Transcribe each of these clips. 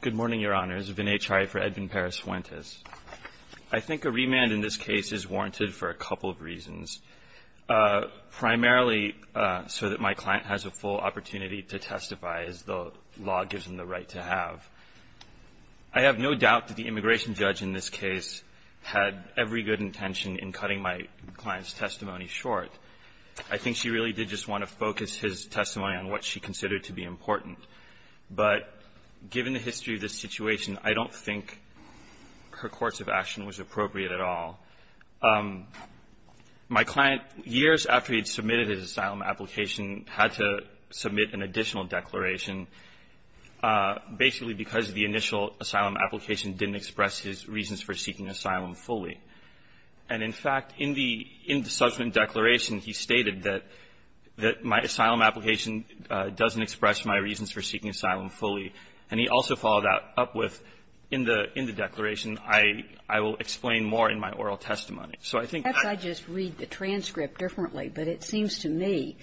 Good morning, Your Honors. Vinay Chai for Edvin Perez Fuentes. I think a remand in this case is warranted for a couple of reasons. Primarily so that my client has a full opportunity to testify as the law gives him the right to have. I have no doubt that the immigration judge in this case had every good intention in cutting my client's testimony short. I think she really did just want to focus his testimony on what she considered to be important. But given the history of this situation, I don't think her course of action was appropriate at all. My client, years after he had submitted his asylum application, had to submit an additional declaration basically because the initial asylum application didn't express his reasons for seeking asylum fully. And, in fact, in the subsequent declaration, he stated that my asylum application doesn't express my reasons for seeking asylum fully. And he also followed that up with in the declaration, I will explain more in my oral testimony. So I think that's why I just read the transcript differently. But it seems to me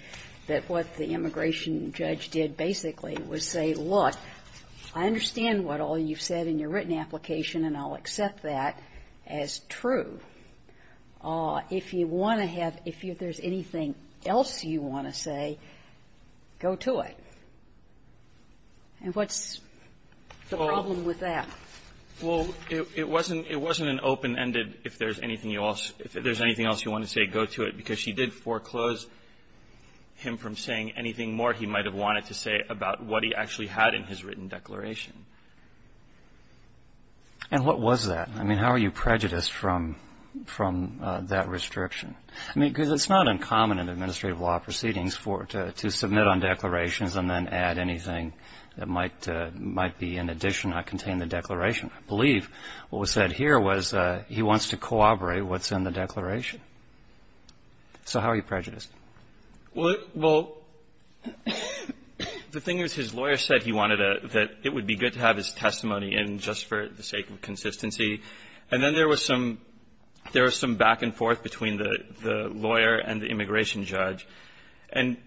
that what the immigration judge did basically was say, look, I understand what all you've said in your written application, and I'll accept that as true. If you want to have – if there's anything else you want to say, go to it. And what's the problem with that? Well, it wasn't an open-ended, if there's anything else you want to say, go to it, because she did foreclose him from saying anything more he might have wanted to say about what he actually had in his written declaration. And what was that? I mean, how are you prejudiced from that restriction? I mean, because it's not uncommon in administrative law proceedings for – to submit on declarations and then add anything that might be in addition or contain the declaration. I believe what was said here was he wants to corroborate what's in the declaration. So how are you prejudiced? Well, the thing is his lawyer said he wanted a – that it would be good to have his testimony in just for the sake of consistency. And then there was some – there was some back and forth between the lawyer and the immigration judge. And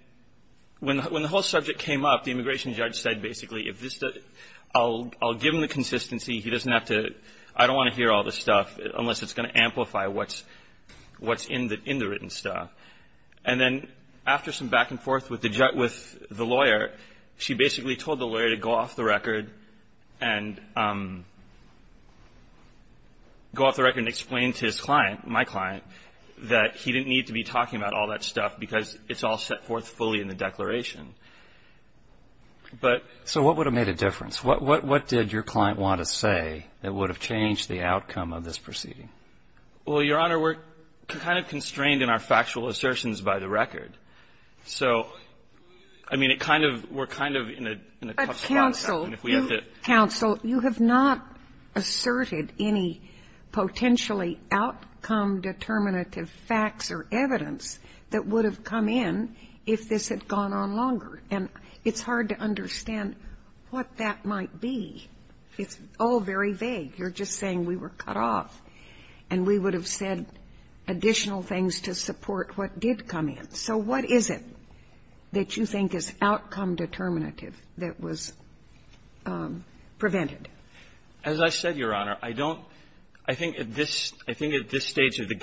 when the whole subject came up, the immigration judge said basically, if this – I'll give him the consistency. He doesn't have to – I don't want to hear all this stuff unless it's going to amplify what's – what's in the written stuff. And then after some back and forth with the – with the lawyer, she basically told the lawyer to go off the record and – go off the record and explain to his client, my client, that he didn't need to be talking about all that stuff because it's all set forth fully in the declaration. But – So what would have made a difference? What did your client want to say that would have changed the outcome of this proceeding? Well, Your Honor, we're kind of constrained in our factual assertions by the record. So, I mean, it kind of – we're kind of in a – in a tough spot. But, counsel, you – counsel, you have not asserted any potentially outcome-determinative facts or evidence that would have come in if this had gone on longer. And it's hard to understand what that might be. It's all very vague. You're just saying we were cut off, and we would have said additional things to support what did come in. So what is it that you think is outcome-determinative that was prevented? As I said, Your Honor, I don't – I think at this – I think at this stage of the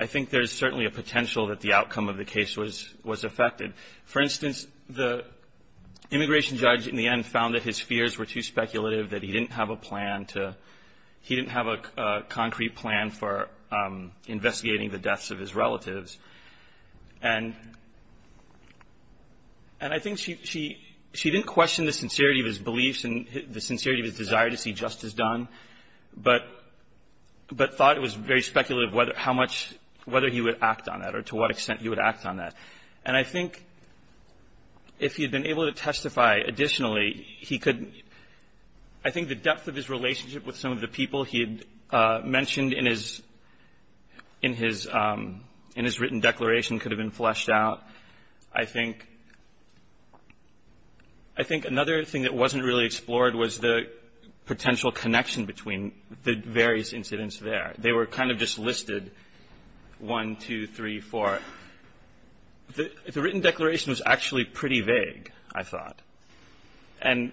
I think there's certainly a potential that the outcome of the case was – was affected. For instance, the immigration judge in the end found that his fears were too speculative, that he didn't have a plan to – he didn't have a concrete plan for investigating the deaths of his relatives. And – and I think she – she didn't question the sincerity of his beliefs and the things he just has done, but – but thought it was very speculative how much – whether he would act on that or to what extent he would act on that. And I think if he had been able to testify additionally, he could – I think the depth of his relationship with some of the people he had mentioned in his – in his – in his written declaration could have been fleshed out. I think – I think another thing that wasn't really explored was the potential connection between the various incidents there. They were kind of just listed, 1, 2, 3, 4. The written declaration was actually pretty vague, I thought. And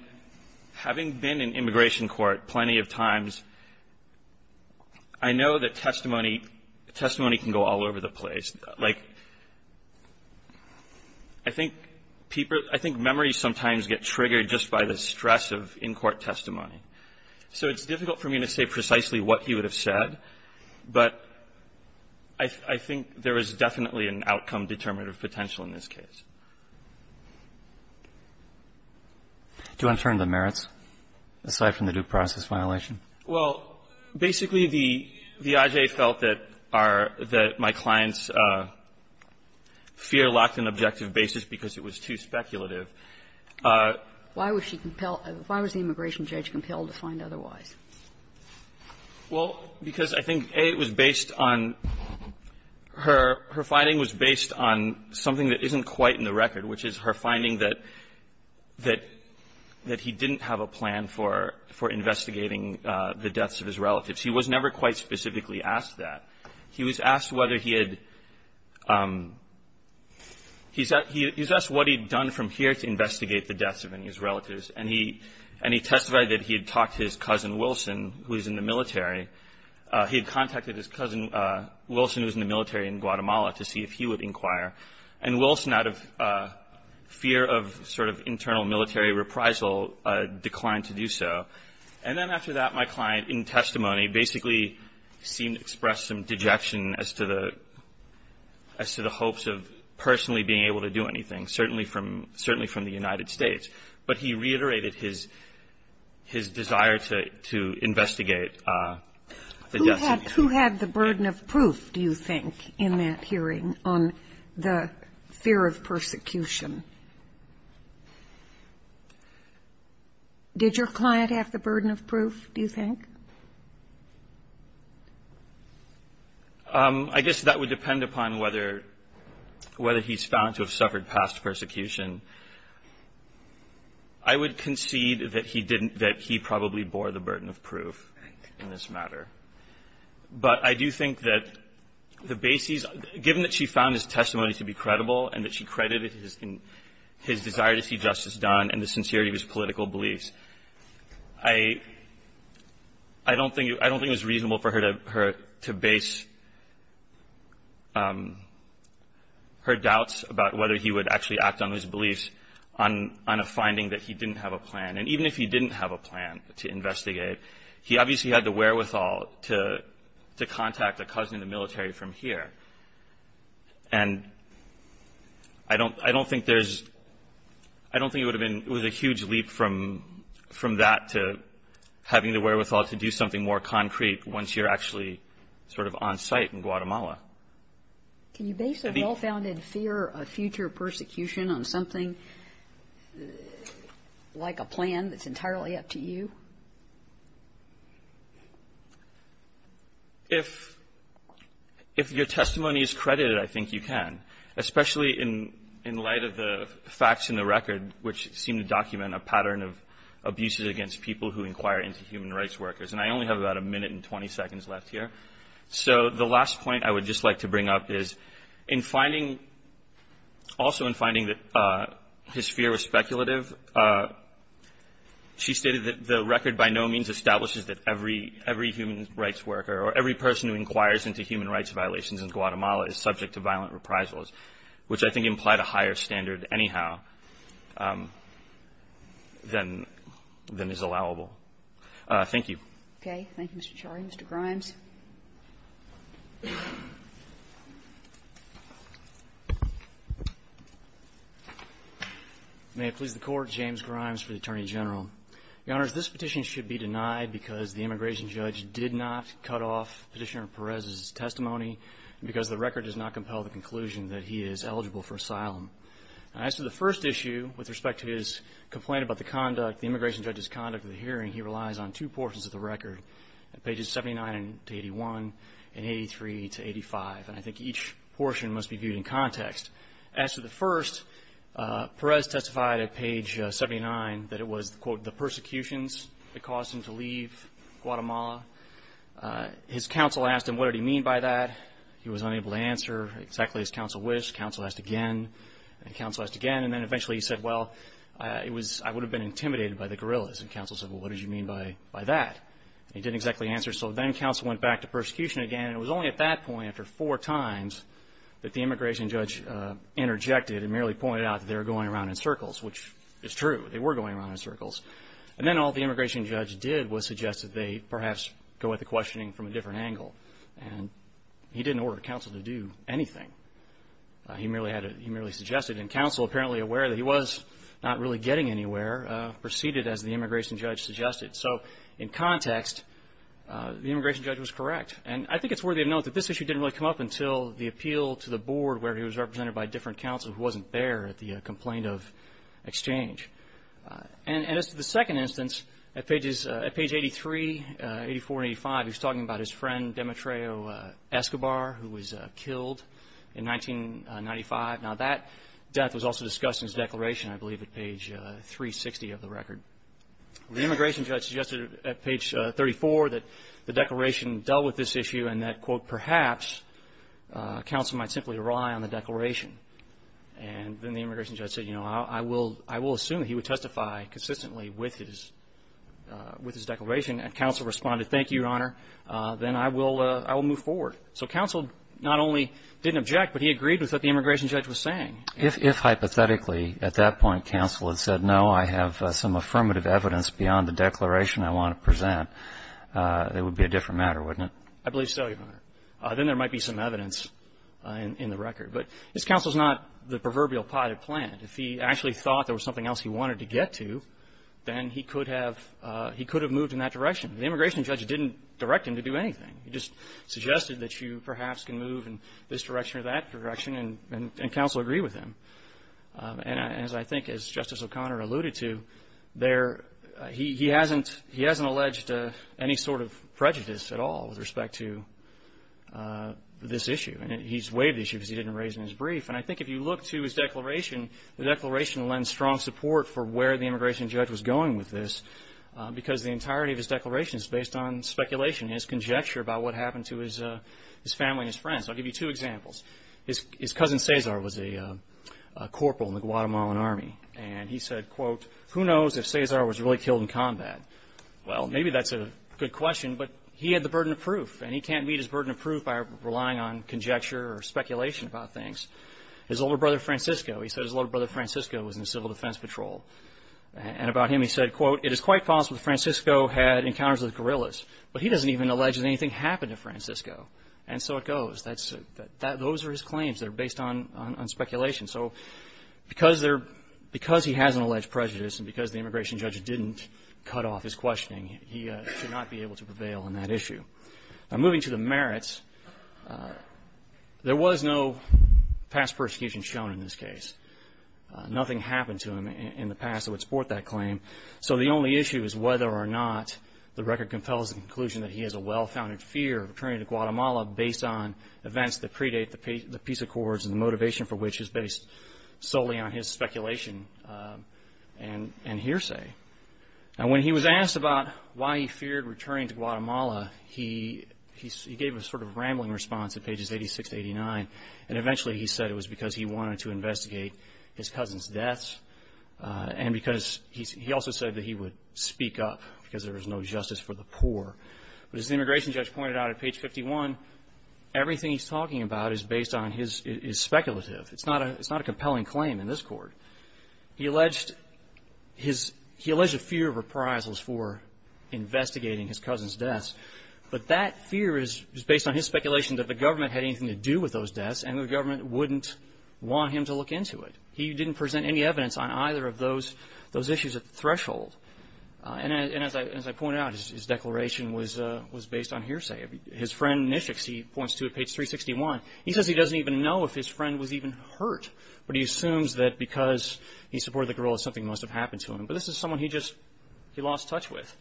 having been in immigration court plenty of times, I know that testimony – testimony can go all over the place. Like, I think people – I think memories sometimes get triggered just by the stress of in-court testimony. So it's difficult for me to say precisely what he would have said, but I think there is definitely an outcome-determinative potential in this case. Do you want to turn to the merits, aside from the due process violation? Well, basically, the I.J. felt that our – that my client's fear lacked an objective basis because it was too speculative. Why was she compelled – why was the immigration judge compelled to find otherwise? Well, because I think, A, it was based on her – her finding was based on something that isn't quite in the record, which is her finding that – that he didn't have a plan for – for investigating the deaths of his relatives. He was never quite specifically asked that. He was asked whether he had – he's asked what he'd done from here to investigate the deaths of any of his relatives. And he – and he testified that he had talked to his cousin, Wilson, who was in the military. He had contacted his cousin, Wilson, who was in the military in Guatemala, to see if he would inquire. And Wilson, out of fear of sort of internal military reprisal, declined to do so. And then after that, my client, in testimony, basically seemed to express some dejection as to the – as to the hopes of personally being able to do anything, certainly from – certainly from the United States. But he reiterated his – his desire to – to investigate the deaths of his relatives. Who had the burden of proof, do you think, in that hearing on the fear of persecution? Did your client have the burden of proof, do you think? I guess that would depend upon whether – whether he's found to have suffered past persecution. I would concede that he didn't – that he probably bore the burden of proof in this matter. But I do think that the basis – given that she found his testimony to be credible and that she credited his – his desire to see justice done and the sincerity of his political beliefs, I – I don't think it was reasonable for her to base her doubts about whether he would actually act on his beliefs on a finding that he didn't have a plan. And even if he didn't have a plan to investigate, he obviously had the wherewithal to contact a cousin in the military from here. And I don't – I don't think there's – I don't think it would have been – it was a huge leap from – from that to having the wherewithal to do something more concrete once you're actually sort of on-site in Guatemala. Can you base a well-founded fear of future persecution on something like a plan that's entirely up to you? If – if your testimony is credited, I think you can, especially in – in light of the facts in the record, which seem to document a pattern of abuses against people who inquire into human rights workers. And I only have about a minute and 20 seconds left here. So the last point I would just like to bring up is, in finding – also in finding that his fear was speculative, she stated that the record by no means establishes that every – every human rights worker or every person who inquires into human rights violations in Guatemala is subject to violent reprisals, which I think implied a higher standard anyhow than – than is allowable. Thank you. Okay. Thank you, Mr. Shirey. Mr. Grimes. May it please the Court. James Grimes for the Attorney General. Your Honors, this petition should be denied because the immigration judge did not cut off Petitioner Perez's testimony, because the record does not compel the conclusion that he is eligible for asylum. As to the first issue, with respect to his complaint about the conduct – the immigration judge's conduct of the hearing, he relies on two portions of the record, pages 79 to 81 and 83 to 85. And I think each portion must be viewed in context. As to the first, Perez testified at page 79 that it was, quote, the persecutions that caused him to leave Guatemala. His counsel asked him what did he mean by that. He was unable to answer exactly as counsel wished. Counsel asked again and counsel asked again. And then eventually he said, well, it was – I would have been intimidated by the guerrillas. And counsel said, well, what did you mean by – by that? He didn't exactly answer. So then counsel went back to persecution again. And it was only at that point, after four times, that the immigration judge interjected and merely pointed out that they were going around in circles, which is true. They were going around in circles. And then all the immigration judge did was suggest that they perhaps go at the questioning from a different angle. And he didn't order counsel to do anything. He merely had – he merely suggested. And counsel, apparently aware that he was not really getting anywhere, proceeded as the immigration judge suggested. So in context, the immigration judge was correct. And I think it's worthy of note that this issue didn't really come up until the appeal to the board where he was represented by different counsel who wasn't there at the complaint of exchange. And as to the second instance, at pages – at page 83, 84 and 85, he was talking about his friend, Demetreo Escobar, who was killed in 1995. Now, that death was also discussed in his declaration, I believe, at page 360 of the record. The immigration judge suggested at page 34 that the declaration dealt with this issue and that, quote, perhaps counsel might simply rely on the declaration. And then the immigration judge said, you know, I will – I will assume that he would testify consistently with his – with his declaration. And counsel responded, thank you, Your Honor, then I will – I will move forward. So counsel not only didn't object, but he agreed with what the immigration judge was saying. If – if hypothetically at that point counsel had said, no, I have some affirmative evidence beyond the declaration I want to present, it would be a different matter, wouldn't it? I believe so, Your Honor. Then there might be some evidence in the record. But his counsel is not the proverbial potted plant. If he actually thought there was something else he wanted to get to, then he could have – he could have moved in that direction. The immigration judge didn't direct him to do anything. He just suggested that you perhaps can move in this direction or that direction, and counsel agreed with him. And as I think, as Justice O'Connor alluded to, there – he hasn't – he hasn't alleged any sort of prejudice at all with respect to this issue. And he's waived the issue because he didn't raise it in his brief. And I think if you look to his declaration, the declaration lends strong support for where the immigration judge was going with this because the entirety of his declaration is based on speculation, his conjecture about what happened to his family and his friends. I'll give you two examples. His cousin Cesar was a corporal in the Guatemalan Army. And he said, quote, who knows if Cesar was really killed in combat. Well, maybe that's a good question, but he had the burden of proof, and he can't meet his burden of proof by relying on conjecture or speculation about things. His older brother Francisco, he said his older brother Francisco was in the National Defense Patrol. And about him he said, quote, it is quite possible that Francisco had encounters with guerrillas, but he doesn't even allege that anything happened to Francisco. And so it goes. That's – those are his claims that are based on speculation. So because there – because he has an alleged prejudice and because the immigration judge didn't cut off his questioning, he should not be able to prevail on that issue. Now, moving to the merits, there was no past persecution shown in this case. Nothing happened to him in the past that would support that claim. So the only issue is whether or not the record compels the conclusion that he has a well-founded fear of returning to Guatemala based on events that predate the peace accords and the motivation for which is based solely on his speculation and hearsay. Now, when he was asked about why he feared returning to Guatemala, he gave a sort of rambling response at pages 86 to 89. And eventually he said it was because he wanted to investigate his cousin's deaths and because – he also said that he would speak up because there was no justice for the poor. But as the immigration judge pointed out at page 51, everything he's talking about is based on his – is speculative. It's not a compelling claim in this court. He alleged his – he alleged a fear of reprisals for investigating his cousin's deaths, but that fear is based on his speculation that the government had anything to do with those deaths and the government wouldn't want him to look into it. He didn't present any evidence on either of those issues at the threshold. And as I pointed out, his declaration was based on hearsay. His friend, Nischix, he points to at page 361. He says he doesn't even know if his friend was even hurt, but he assumes that because he supported the guerrillas, something must have happened to him. But this is someone he just – he lost touch with.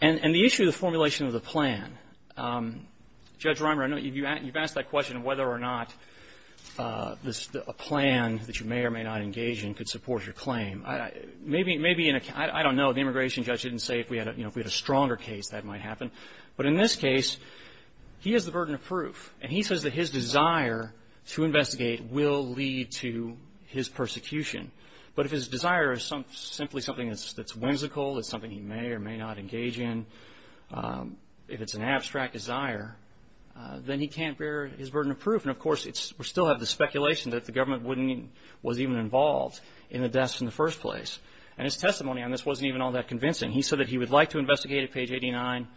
And the issue of the formulation of the plan, Judge Reimer, I know you've asked that question of whether or not a plan that you may or may not engage in could support your claim. Maybe in a – I don't know. The immigration judge didn't say if we had a stronger case that might happen. But in this case, he has the burden of proof. And he says that his desire to investigate will lead to his persecution. But if his desire is simply something that's whimsical, it's something he may or may not engage in, if it's an abstract desire, then he can't bear his burden of proof. And, of course, we still have the speculation that the government wouldn't – was even involved in the deaths in the first place. And his testimony on this wasn't even all that convincing. He said that he would like to investigate at page 89,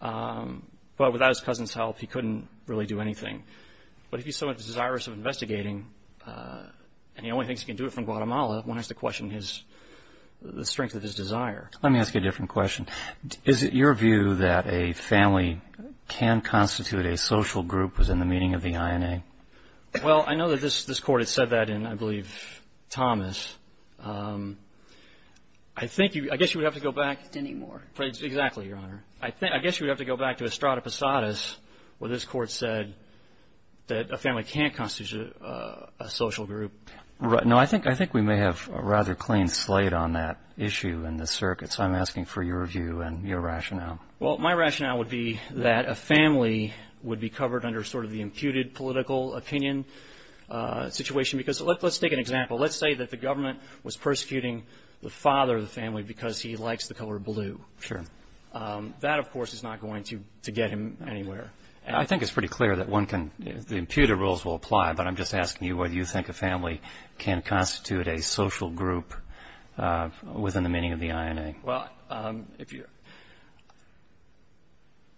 but without his cousin's help, he couldn't really do anything. But if he's so desirous of investigating and he only thinks he can do it from Guatemala, one has to question his – the strength of his desire. Let me ask you a different question. Is it your view that a family can constitute a social group within the meaning of the INA? Well, I know that this Court had said that in, I believe, Thomas. I think you – I guess you would have to go back. Anymore. Exactly, Your Honor. I guess you would have to go back to Estrada Posadas, where this Court said that a family can't constitute a social group. No, I think we may have a rather clean slate on that issue in this circuit. So I'm asking for your view and your rationale. Well, my rationale would be that a family would be covered under sort of the imputed political opinion situation. Because let's take an example. Let's say that the government was persecuting the father of the family because he likes the color blue. Sure. That, of course, is not going to get him anywhere. I think it's pretty clear that one can – the imputed rules will apply. But I'm just asking you whether you think a family can constitute a social group within the meaning of the INA. Well, if you're –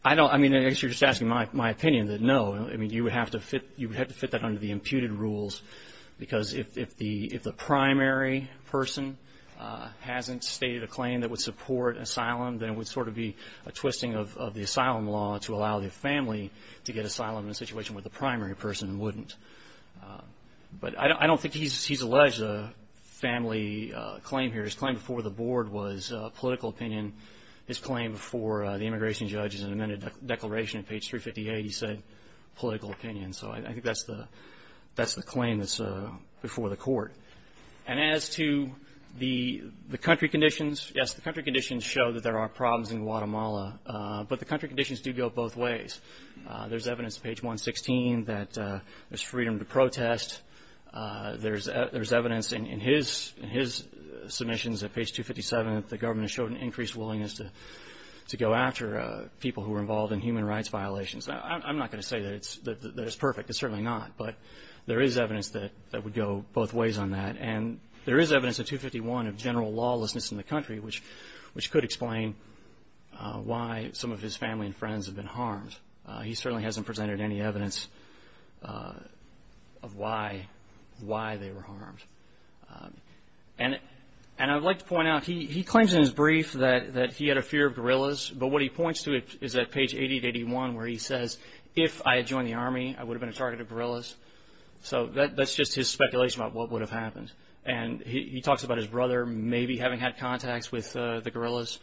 I don't – I mean, I guess you're just asking my opinion that no. I mean, you would have to fit that under the imputed rules. Because if the primary person hasn't stated a claim that would support asylum, then it would sort of be a twisting of the asylum law to allow the family to get asylum in a situation where the primary person wouldn't. But I don't think he's alleged a family claim here. His claim before the board was political opinion. His claim before the immigration judge is an amended declaration. Page 358, he said political opinion. So I think that's the claim that's before the court. And as to the country conditions, yes, the country conditions show that there are problems in Guatemala. But the country conditions do go both ways. There's evidence at page 116 that there's freedom to protest. There's evidence in his submissions at page 257 that the government has shown an increased willingness to go after people who are involved in human rights violations. I'm not going to say that it's perfect. It's certainly not. But there is evidence that would go both ways on that. And there is evidence at 251 of general lawlessness in the country, which could explain why some of his family and friends have been harmed. He certainly hasn't presented any evidence of why they were harmed. And I would like to point out, he claims in his brief that he had a fear of gorillas, but what he points to is at page 881 where he says, if I had joined the Army, I would have been a target of gorillas. So that's just his speculation about what would have happened. And he talks about his brother maybe having had contacts with the gorillas,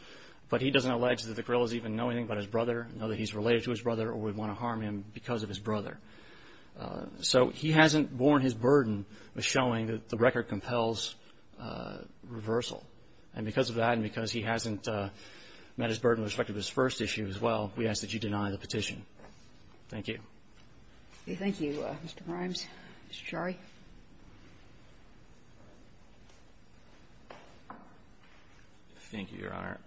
but he doesn't allege that the gorillas even know anything about his brother, know that he's related to his brother or would want to harm him because of his brother. So he hasn't borne his burden of showing that the record compels reversal. And because of that and because he hasn't met his burden with respect to his first issue as well, we ask that you deny the petition. Thank you. Kagan. Thank you, Mr. Grimes. Mr. Chari. Thank you, Your Honor.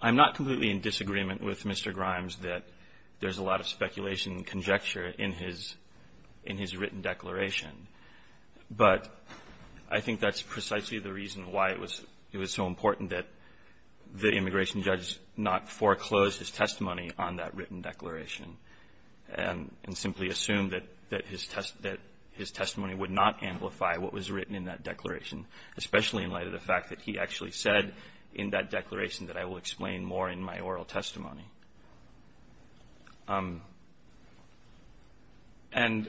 I'm not completely in disagreement with Mr. Grimes that there's a lot of speculation and conjecture in his written declaration, but I think that's precisely the reason why it was so important that the immigration judge not foreclose his testimony on that written declaration and simply assume that his testimony would not amplify what was written in that declaration, especially in light of the fact that he actually said in that declaration that I will explain more in my oral testimony. And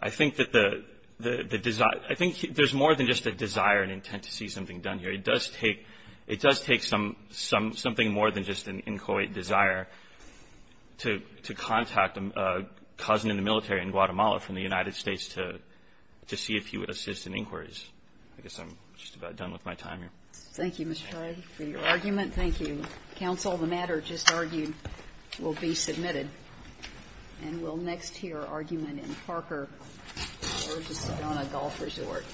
I think that the desire – I think there's more than just a desire and intent to see something done here. It does take – it does take some – something more than just an inchoate desire to contact a cousin in the military in Guatemala from the United States to see if he would assist in inquiries. I guess I'm just about done with my time here. Thank you, Mr. Chari, for your argument. Thank you, counsel. The matter just argued will be submitted. And we'll next hear argument in Parker versus Sedona Golf Resort.